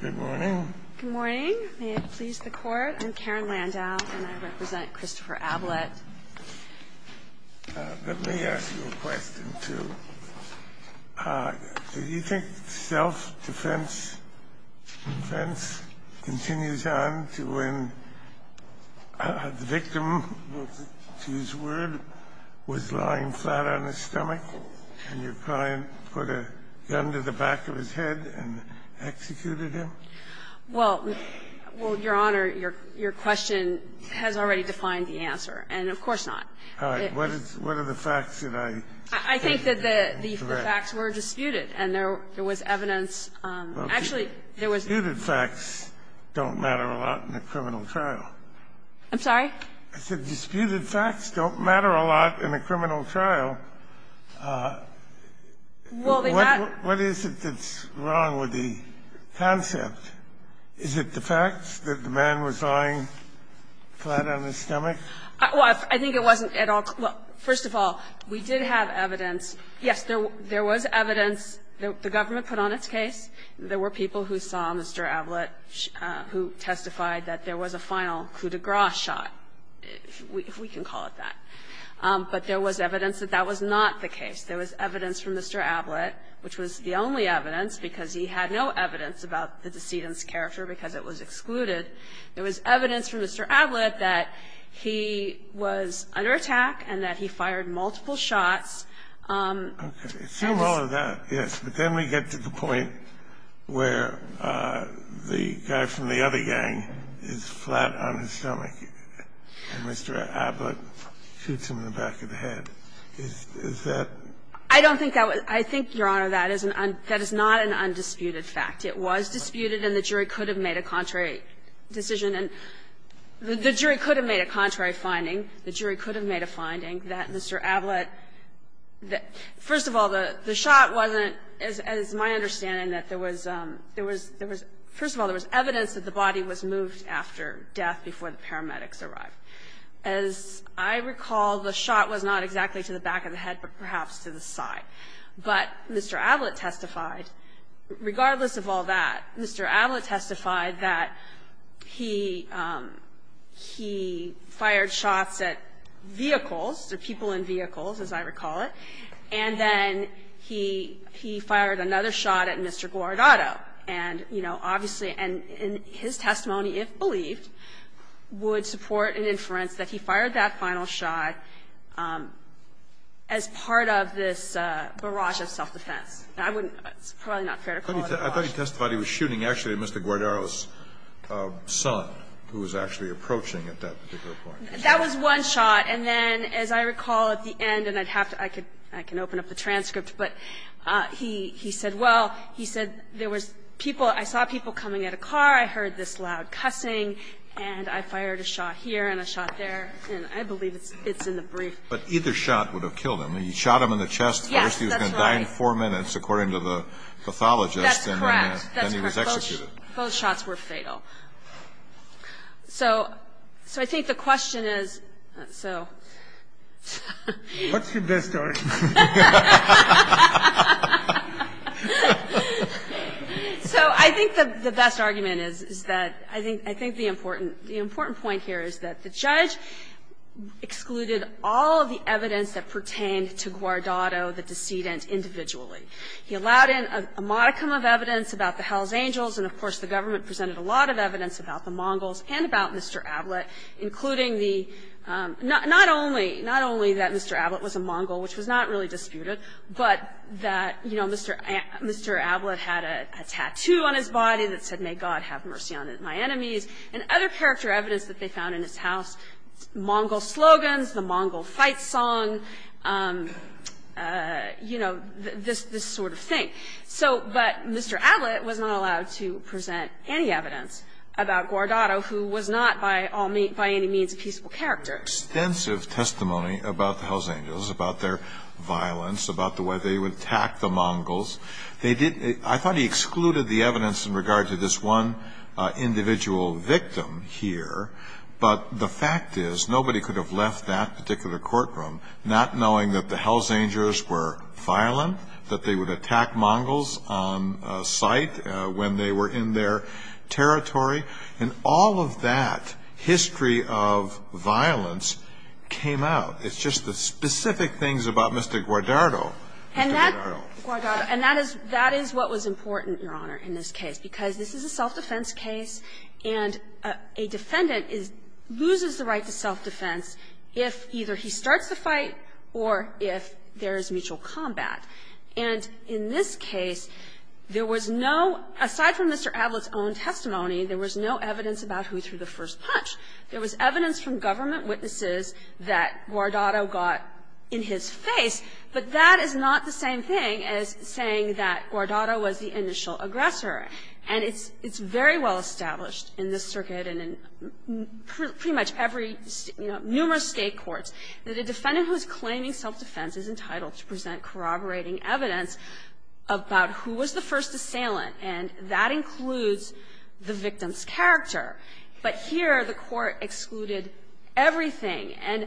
Good morning. Good morning. May it please the Court. I'm Karen Landau, and I represent Christopher Ablett. Let me ask you a question, too. Do you think self-defense continues on to when the victim, to use a word, was lying flat on his stomach and your client put a gun to the back of his head and executed him? Well, Your Honor, your question has already defined the answer, and of course not. All right. What are the facts that I think are correct? I think that the facts were disputed, and there was evidence of actually there was Disputed facts don't matter a lot in a criminal trial. I'm sorry? I said disputed facts don't matter a lot in a criminal trial. Well, they're not What is it that's wrong with the concept? Is it the facts that the man was lying flat on his stomach? Well, I think it wasn't at all. Well, first of all, we did have evidence. Yes, there was evidence that the government put on its case. There were people who saw Mr. Ablett who testified that there was a final coup de grace shot, if we can call it that. But there was evidence that that was not the case. There was evidence from Mr. Ablett, which was the only evidence, because he had no evidence about the decedent's character because it was excluded. There was evidence from Mr. Ablett that he was under attack and that he fired multiple shots. Okay. So all of that, yes. But then we get to the point where the guy from the other gang is flat on his stomach and Mr. Ablett shoots him in the back of the head. Is that I don't think that was – I think, Your Honor, that is not an undisputed fact. It was disputed and the jury could have made a contrary decision. And the jury could have made a contrary finding. The jury could have made a finding that Mr. Ablett – first of all, the shot wasn't – as my understanding, that there was – first of all, there was evidence that the body was moved after death, before the paramedics arrived. As I recall, the shot was not exactly to the back of the head, but perhaps to the side. But Mr. Ablett testified, regardless of all that, Mr. Ablett testified that he fired shots at vehicles, the people in vehicles, as I recall it, and then he fired another shot at Mr. Guardado. And you know, obviously – and his testimony, if believed, would support an inference that he fired that final shot as part of this barrage of self-defense. I wouldn't – it's probably not fair to call it a barrage. I thought he testified he was shooting actually at Mr. Guardado's son, who was actually approaching at that particular point. That was one shot. And then, as I recall at the end, and I'd have to – I can open up the transcript, but he said, well, he said there was people – I saw people coming at a car, I heard this loud cussing, and I fired a shot here and a shot there, and I believe it's in the brief. But either shot would have killed him. He shot him in the chest, first he was going to die in four minutes, according to the pathologist, and then he was executed. That's correct. Both shots were fatal. So I think the question is – so. What's your best argument? So I think the best argument is that – I think the important point here is that the judge excluded all of the evidence that pertained to Guardado, the decedent, individually. He allowed in a modicum of evidence about the Hells Angels, and of course the government presented a lot of evidence about the Mongols and about Mr. Ablett, including the – not only that Mr. Ablett was a Mongol, which was not really disputed, but that, you know, Mr. Ablett had a tattoo on his body that said, may God have mercy on my enemies. And other character evidence that they found in his house, Mongol slogans, the Mongol fight song, you know, this sort of thing. So – but Mr. Ablett was not allowed to present any evidence about Guardado, who was not by any means a peaceful character. Extensive testimony about the Hells Angels, about their violence, about the way they would attack the Mongols. They did – I thought he excluded the evidence in regard to this one individual victim here, but the fact is nobody could have left that particular courtroom not knowing that the Hells Angels were violent, that they would attack Mongols on sight when they were in their territory. And all of that history of violence came out. It's just the specific things about Mr. Guardado. And that – and that is what was important, Your Honor, in this case, because this is a self-defense case, and a defendant loses the right to self-defense if either he starts the fight or if there is mutual combat. And in this case, there was no – aside from Mr. Ablett's own testimony, there was no evidence about who threw the first punch. There was evidence from government witnesses that Guardado got in his face, but that is not the same thing as saying that Guardado was the initial aggressor. And it's very well established in this circuit and in pretty much every, you know, numerous State courts that a defendant who is claiming self-defense is entitled to present corroborating evidence about who was the first assailant, and that includes the victim's character. But here, the Court excluded everything. And,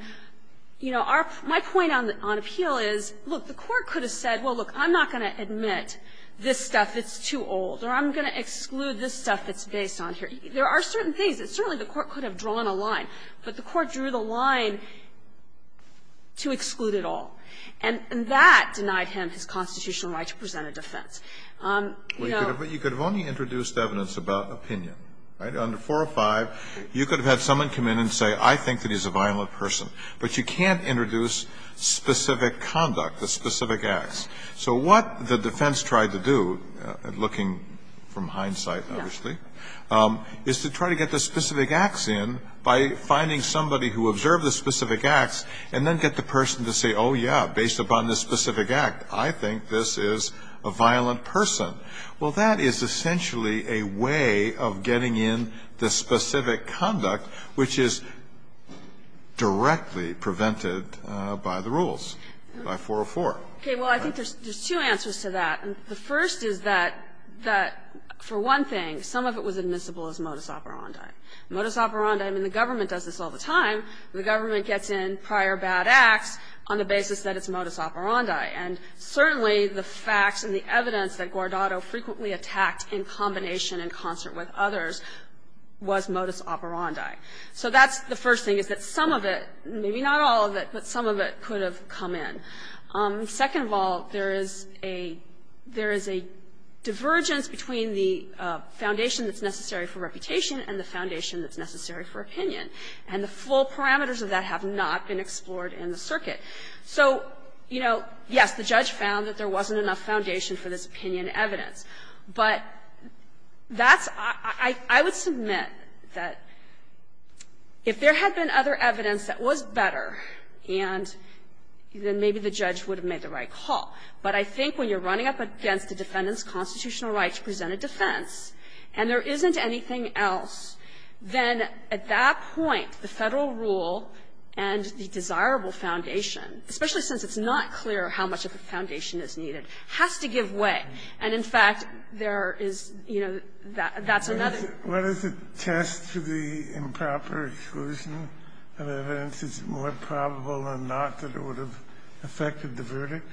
you know, our – my point on appeal is, look, the Court could have said, well, look, I'm not going to admit this stuff that's too old, or I'm going to exclude this stuff that's based on here. There are certain things that certainly the Court could have drawn a line, but the Court drew the line to exclude it all. And that denied him his constitutional right to present a defense. You know – Kennedy, but you could have only introduced evidence about opinion, right? Under 405, you could have had someone come in and say, I think that he's a violent person, but you can't introduce specific conduct, the specific acts. So what the defense tried to do, looking from hindsight, obviously, is to try to get the specific acts in by finding somebody who observed the specific acts, and then get the person to say, oh, yeah, based upon the specific act, I think this is a violent person. Well, that is essentially a way of getting in the specific conduct, which is directly prevented by the rules, by 404. Okay. Well, I think there's two answers to that. The first is that, for one thing, some of it was admissible as modus operandi. Modus operandi – I mean, the government does this all the time. The government gets in prior bad acts on the basis that it's modus operandi. And certainly the facts and the evidence that Guardado frequently attacked in combination in concert with others was modus operandi. So that's the first thing, is that some of it – maybe not all of it, but some of it could have come in. Second of all, there is a – there is a divergence between the foundation that's necessary for reputation and the foundation that's necessary for opinion. And the full parameters of that have not been explored in the circuit. So, you know, yes, the judge found that there wasn't enough foundation for this opinion evidence. But that's – I would submit that if there had been other evidence that was better, and then maybe the judge would have made the right call. But I think when you're running up against a defendant's constitutional right to present a defense, and there isn't anything else, then at that point, the Federal rule and the desirable foundation, especially since it's not clear how much of a foundation is needed, has to give way. And, in fact, there is – you know, that's another – to the improper exclusion of evidence, is it more probable or not that it would have affected the verdict?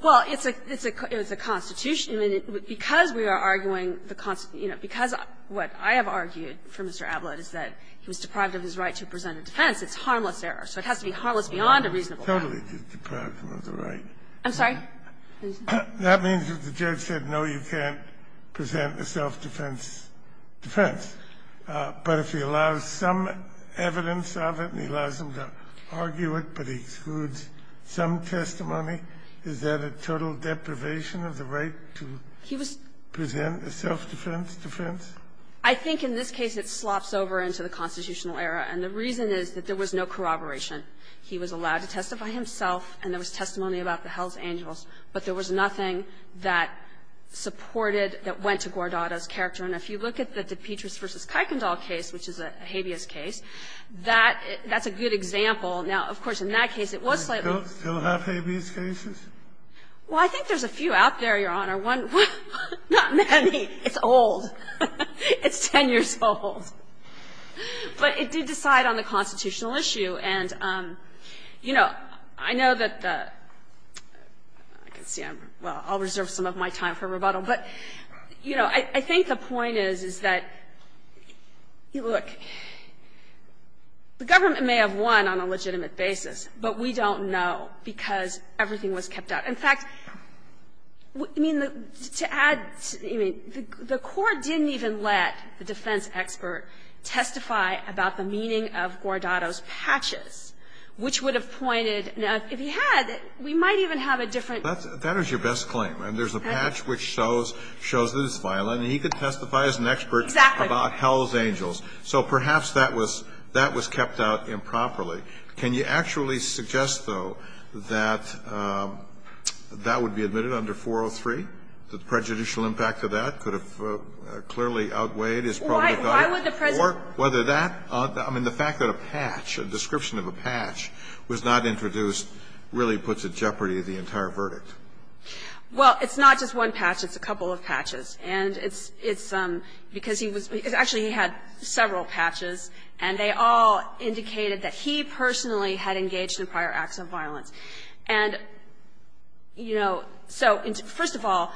Well, it's a – it's a – it's a constitution. And because we are arguing the – you know, because what I have argued for Mr. Ablod is that he was deprived of his right to present a defense, it's harmless error. So it has to be harmless beyond a reasonable doubt. Totally deprived of the right. I'm sorry? That means that the judge said, no, you can't present a self-defense defense. But if he allows some evidence of it and he allows them to argue it, but he excludes some testimony, is that a total deprivation of the right to present a self-defense defense? I think in this case it slops over into the constitutional era. And the reason is that there was no corroboration. He was allowed to testify himself, and there was testimony about the Hells Angels. But there was nothing that supported, that went to Gordado's character. And if you look at the DePetris v. Kuykendall case, which is a habeas case, that – that's a good example. Now, of course, in that case, it was slightly – Do you still have habeas cases? Well, I think there's a few out there, Your Honor. One – not many. It's old. It's 10 years old. But it did decide on the constitutional issue. And, you know, I know that the – I can see I'm – well, I'll reserve some of my time for rebuttal. But, you know, I think the point is, is that, look, the government may have won on a legitimate basis, but we don't know because everything was kept out. In fact, I mean, to add – I mean, the Court didn't even let the defense expert testify about the meaning of Gordado's patches, which would have pointed – now, if he had, we might even have a different – That is your best claim. And there's a patch which shows – shows that it's violent, and he could testify as an expert about Hell's Angels. So perhaps that was – that was kept out improperly. Can you actually suggest, though, that that would be admitted under 403? The prejudicial impact of that could have clearly outweighed his – Well, why would the President – Or whether that – I mean, the fact that a patch – a description of a patch was not introduced really puts at jeopardy the entire verdict. Well, it's not just one patch. It's a couple of patches. And it's – it's because he was – actually, he had several patches, and they all indicated that he personally had engaged in prior acts of violence. And, you know, so first of all,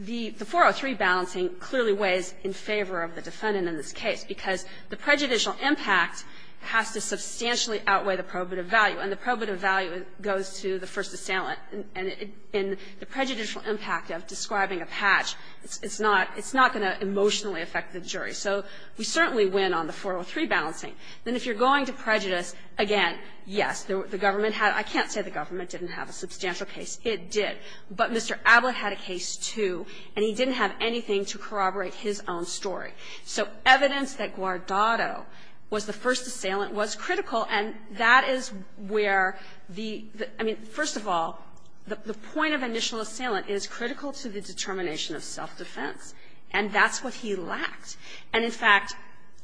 the 403 balancing clearly weighs in favor of the defendant in this case, because the prejudicial impact has to substantially outweigh the probative value, and the probative value goes to the first assailant. And in the prejudicial impact of describing a patch, it's not – it's not going to emotionally affect the jury. So we certainly win on the 403 balancing. Then if you're going to prejudice, again, yes, the government had – I can't say the government didn't have a substantial case. It did. But Mr. Ablett had a case, too, and he didn't have anything to corroborate his own story. So evidence that Guardado was the first assailant was critical, and that is where the – I mean, first of all, the point of initial assailant is critical to the determination of self-defense, and that's what he lacked. And, in fact,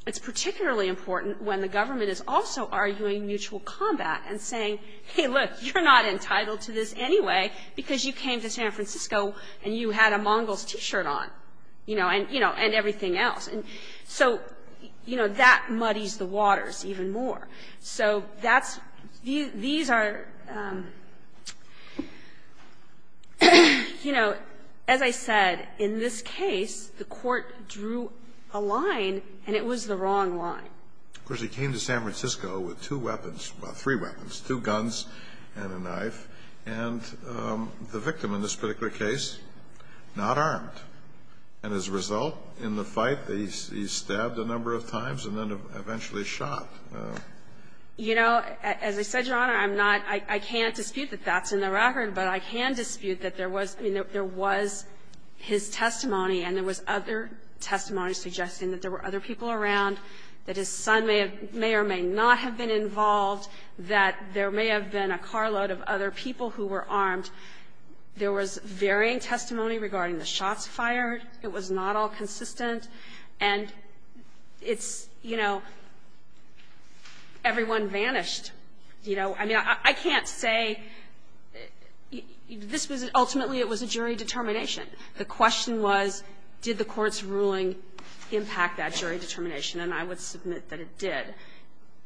it's particularly important when the government is also arguing mutual combat and saying, hey, look, you're not entitled to this anyway, because you came to San Francisco, and you had a Mongol's T-shirt on, you know, and everything else. And so, you know, that muddies the waters even more. So that's – these are – you know, as I said, in this case, the court drew a line, and it was the wrong line. Of course, he came to San Francisco with two weapons – well, three weapons, two guns and a knife, and the victim in this particular case, not armed. And as a result, in the fight, he stabbed a number of times and then eventually was shot. You know, as I said, Your Honor, I'm not – I can't dispute that that's in the record, but I can dispute that there was – I mean, there was his testimony, and there was other testimony suggesting that there were other people around, that his son may or may not have been involved, that there may have been a carload of other people who were armed. There was varying testimony regarding the shots fired. It was not all consistent. And it's, you know, everyone vanished. You know, I mean, I can't say – this was – ultimately, it was a jury determination. The question was, did the Court's ruling impact that jury determination? And I would submit that it did.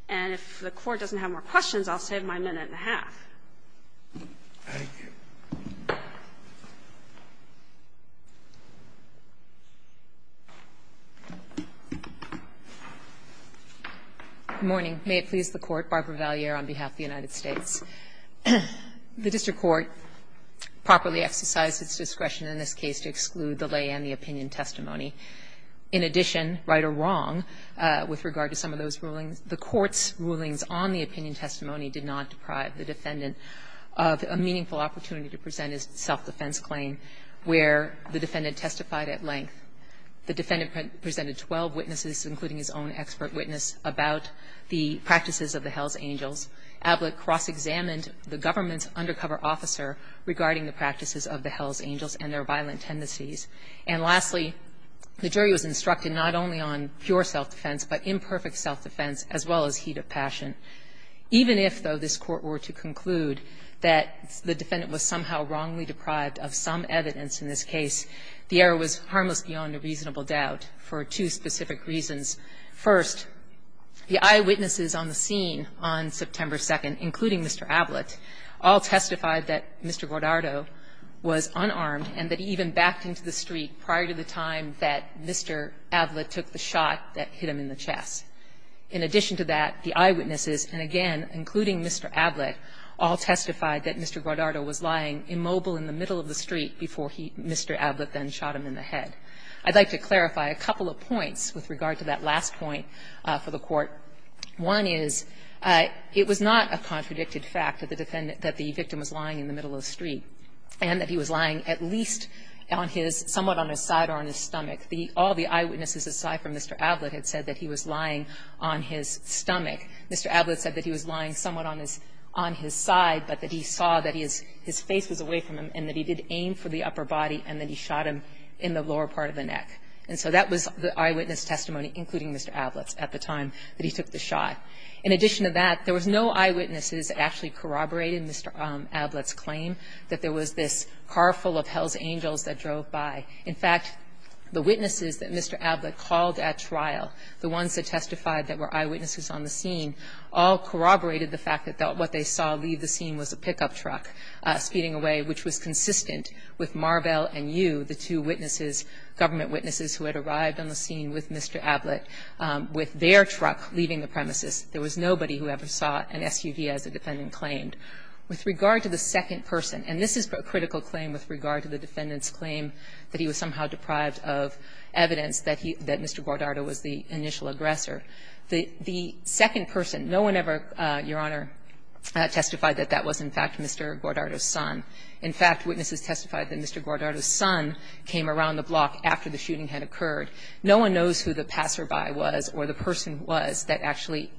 And if the Court doesn't have more questions, I'll save my minute and a half. Thank you. Good morning. May it please the Court. Barbara Valliere on behalf of the United States. The district court properly exercised its discretion in this case to exclude the lay and the opinion testimony. In addition, right or wrong with regard to some of those rulings, the Court's rulings on the opinion testimony did not deprive the defendant. A meaningful opportunity to present his self-defense claim, where the defendant testified at length. The defendant presented 12 witnesses, including his own expert witness, about the practices of the Hells Angels. Ablett cross-examined the government's undercover officer regarding the practices of the Hells Angels and their violent tendencies. And lastly, the jury was instructed not only on pure self-defense, but imperfect self-defense, as well as heat of passion. Even if, though, this Court were to conclude that the defendant was somehow wrongly deprived of some evidence in this case, the error was harmless beyond a reasonable doubt for two specific reasons. First, the eyewitnesses on the scene on September 2nd, including Mr. Ablett, all testified that Mr. Guardado was unarmed, and that he even backed into the street prior to the time that Mr. Ablett took the shot that hit him in the chest. In addition to that, the eyewitnesses, and again, including Mr. Ablett, all testified that Mr. Guardado was lying immobile in the middle of the street before he, Mr. Ablett then shot him in the head. I'd like to clarify a couple of points with regard to that last point for the Court. One is, it was not a contradicted fact that the defendant, that the victim was lying in the middle of the street, and that he was lying at least on his, somewhat on his side or on his stomach. The, all the eyewitnesses aside from Mr. Ablett had said that he was lying on his stomach. Mr. Ablett said that he was lying somewhat on his, on his side, but that he saw that he is, his face was away from him, and that he did aim for the upper body, and that he shot him in the lower part of the neck. And so that was the eyewitness testimony, including Mr. Ablett's, at the time that he took the shot. In addition to that, there was no eyewitnesses that actually corroborated Mr. Ablett's claim, that there was this car full of Hell's Angels that drove by. In fact, the witnesses that Mr. Ablett called at trial, the ones that testified that were eyewitnesses on the scene, all corroborated the fact that what they saw leave the scene was a pickup truck speeding away, which was consistent with Marvell and Yu, the two witnesses, government witnesses who had arrived on the scene with Mr. Ablett, with their truck leaving the premises. There was nobody who ever saw an SUV, as the defendant claimed. With regard to the second person, and this is a critical claim with regard to the defendant's claim that he was somehow deprived of evidence that he, that Mr. Guardardo was the initial aggressor, the second person, no one ever, Your Honor, testified that that was, in fact, Mr. Guardardo's son. In fact, witnesses testified that Mr. Guardardo's son came around the block after the shooting had occurred. No one knows who the passerby was or the person was that actually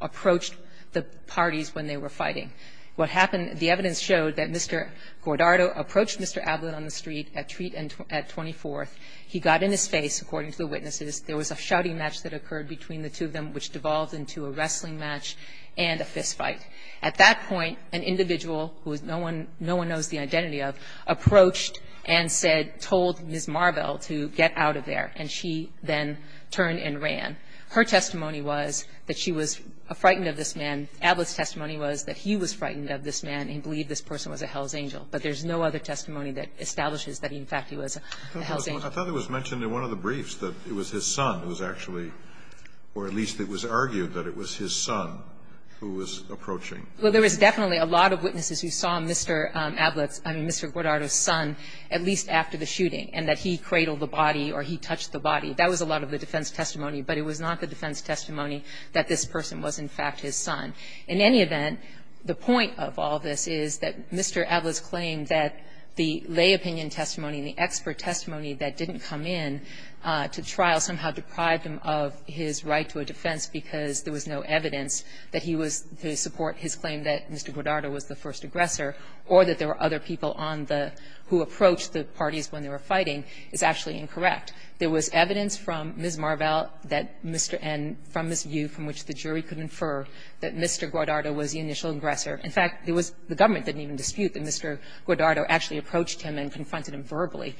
approached the parties when they were fighting. What happened, the evidence showed that Mr. Guardardo approached Mr. Ablett on the street at 24th. He got in his face, according to the witnesses. There was a shouting match that occurred between the two of them, which devolved into a wrestling match and a fistfight. At that point, an individual, who no one knows the identity of, approached and said, told Ms. Marvell to get out of there, and she then turned and ran. Her testimony was that she was frightened of this man. Ablett's testimony was that he was frightened of this man and believed this person was a hell's angel. But there's no other testimony that establishes that, in fact, he was a hell's angel. I thought it was mentioned in one of the briefs that it was his son who was actually or at least it was argued that it was his son who was approaching. Well, there was definitely a lot of witnesses who saw Mr. Ablett's, I mean, Mr. Guardardo's son at least after the shooting and that he cradled the body or he touched the body. That was a lot of the defense testimony, but it was not the defense testimony that this person was, in fact, his son. In any event, the point of all this is that Mr. Ablett's claim that the lay opinion testimony and the expert testimony that didn't come in to trial somehow deprived him of his right to a defense because there was no evidence that he was to support his claim that Mr. Guardardo was the first aggressor or that there were other people on the who approached the parties when they were fighting is actually incorrect. There was evidence from Ms. Marvell that Mr. N, from this view from which the jury could infer, that Mr. Guardardo was the initial aggressor. In fact, it was the government that didn't even dispute that Mr. Guardardo actually approached him and confronted him verbally.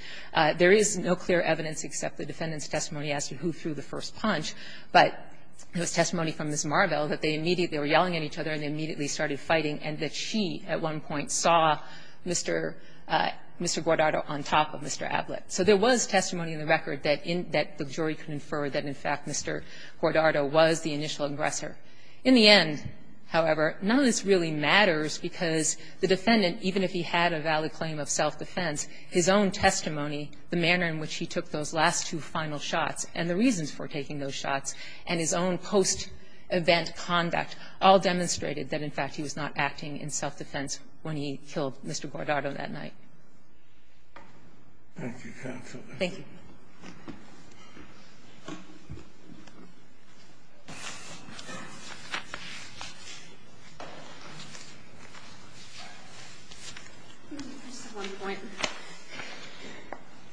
There is no clear evidence except the defendant's testimony as to who threw the first punch, but there was testimony from Ms. Marvell that they immediately were yelling at each other and they immediately started fighting and that she at one point saw Mr. Guardardo on top of Mr. Ablett. So there was testimony in the record that the jury could infer that, in fact, Mr. Guardardo was the initial aggressor. In the end, however, none of this really matters because the defendant, even if he had a valid claim of self-defense, his own testimony, the manner in which he took those last two final shots and the reasons for taking those shots, and his own post-event conduct all demonstrated that, in fact, he was not acting in self-defense when he killed Mr. Guardardo that night. Thank you, counsel. Thank you.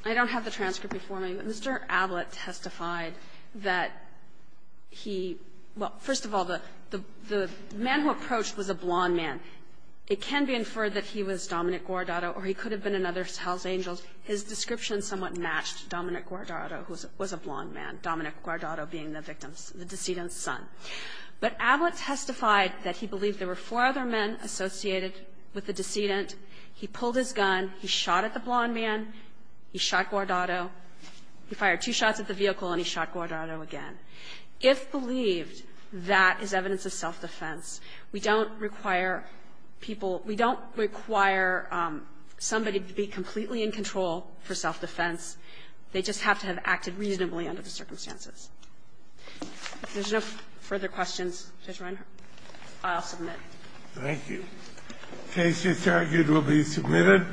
I don't have the transcript before me, but Mr. Ablett testified that he – well, first of all, the man who approached was a blond man. It can be inferred that he was Dominic Guardardo or he could have been another of Hell's Angels. His description somewhat matched Dominic Guardardo, who was a blond man, Dominic Guardardo being the victim's – the decedent's son. But Ablett testified that he believed there were four other men associated with the decedent. He pulled his gun, he shot at the blond man, he shot Guardardo, he fired two shots at the vehicle, and he shot Guardardo again. If believed, that is evidence of self-defense. We don't require people – we don't require somebody to be completely in control for self-defense. They just have to have acted reasonably under the circumstances. If there's no further questions, Judge Reinhart, I'll submit. Thank you. The case is argued will be submitted.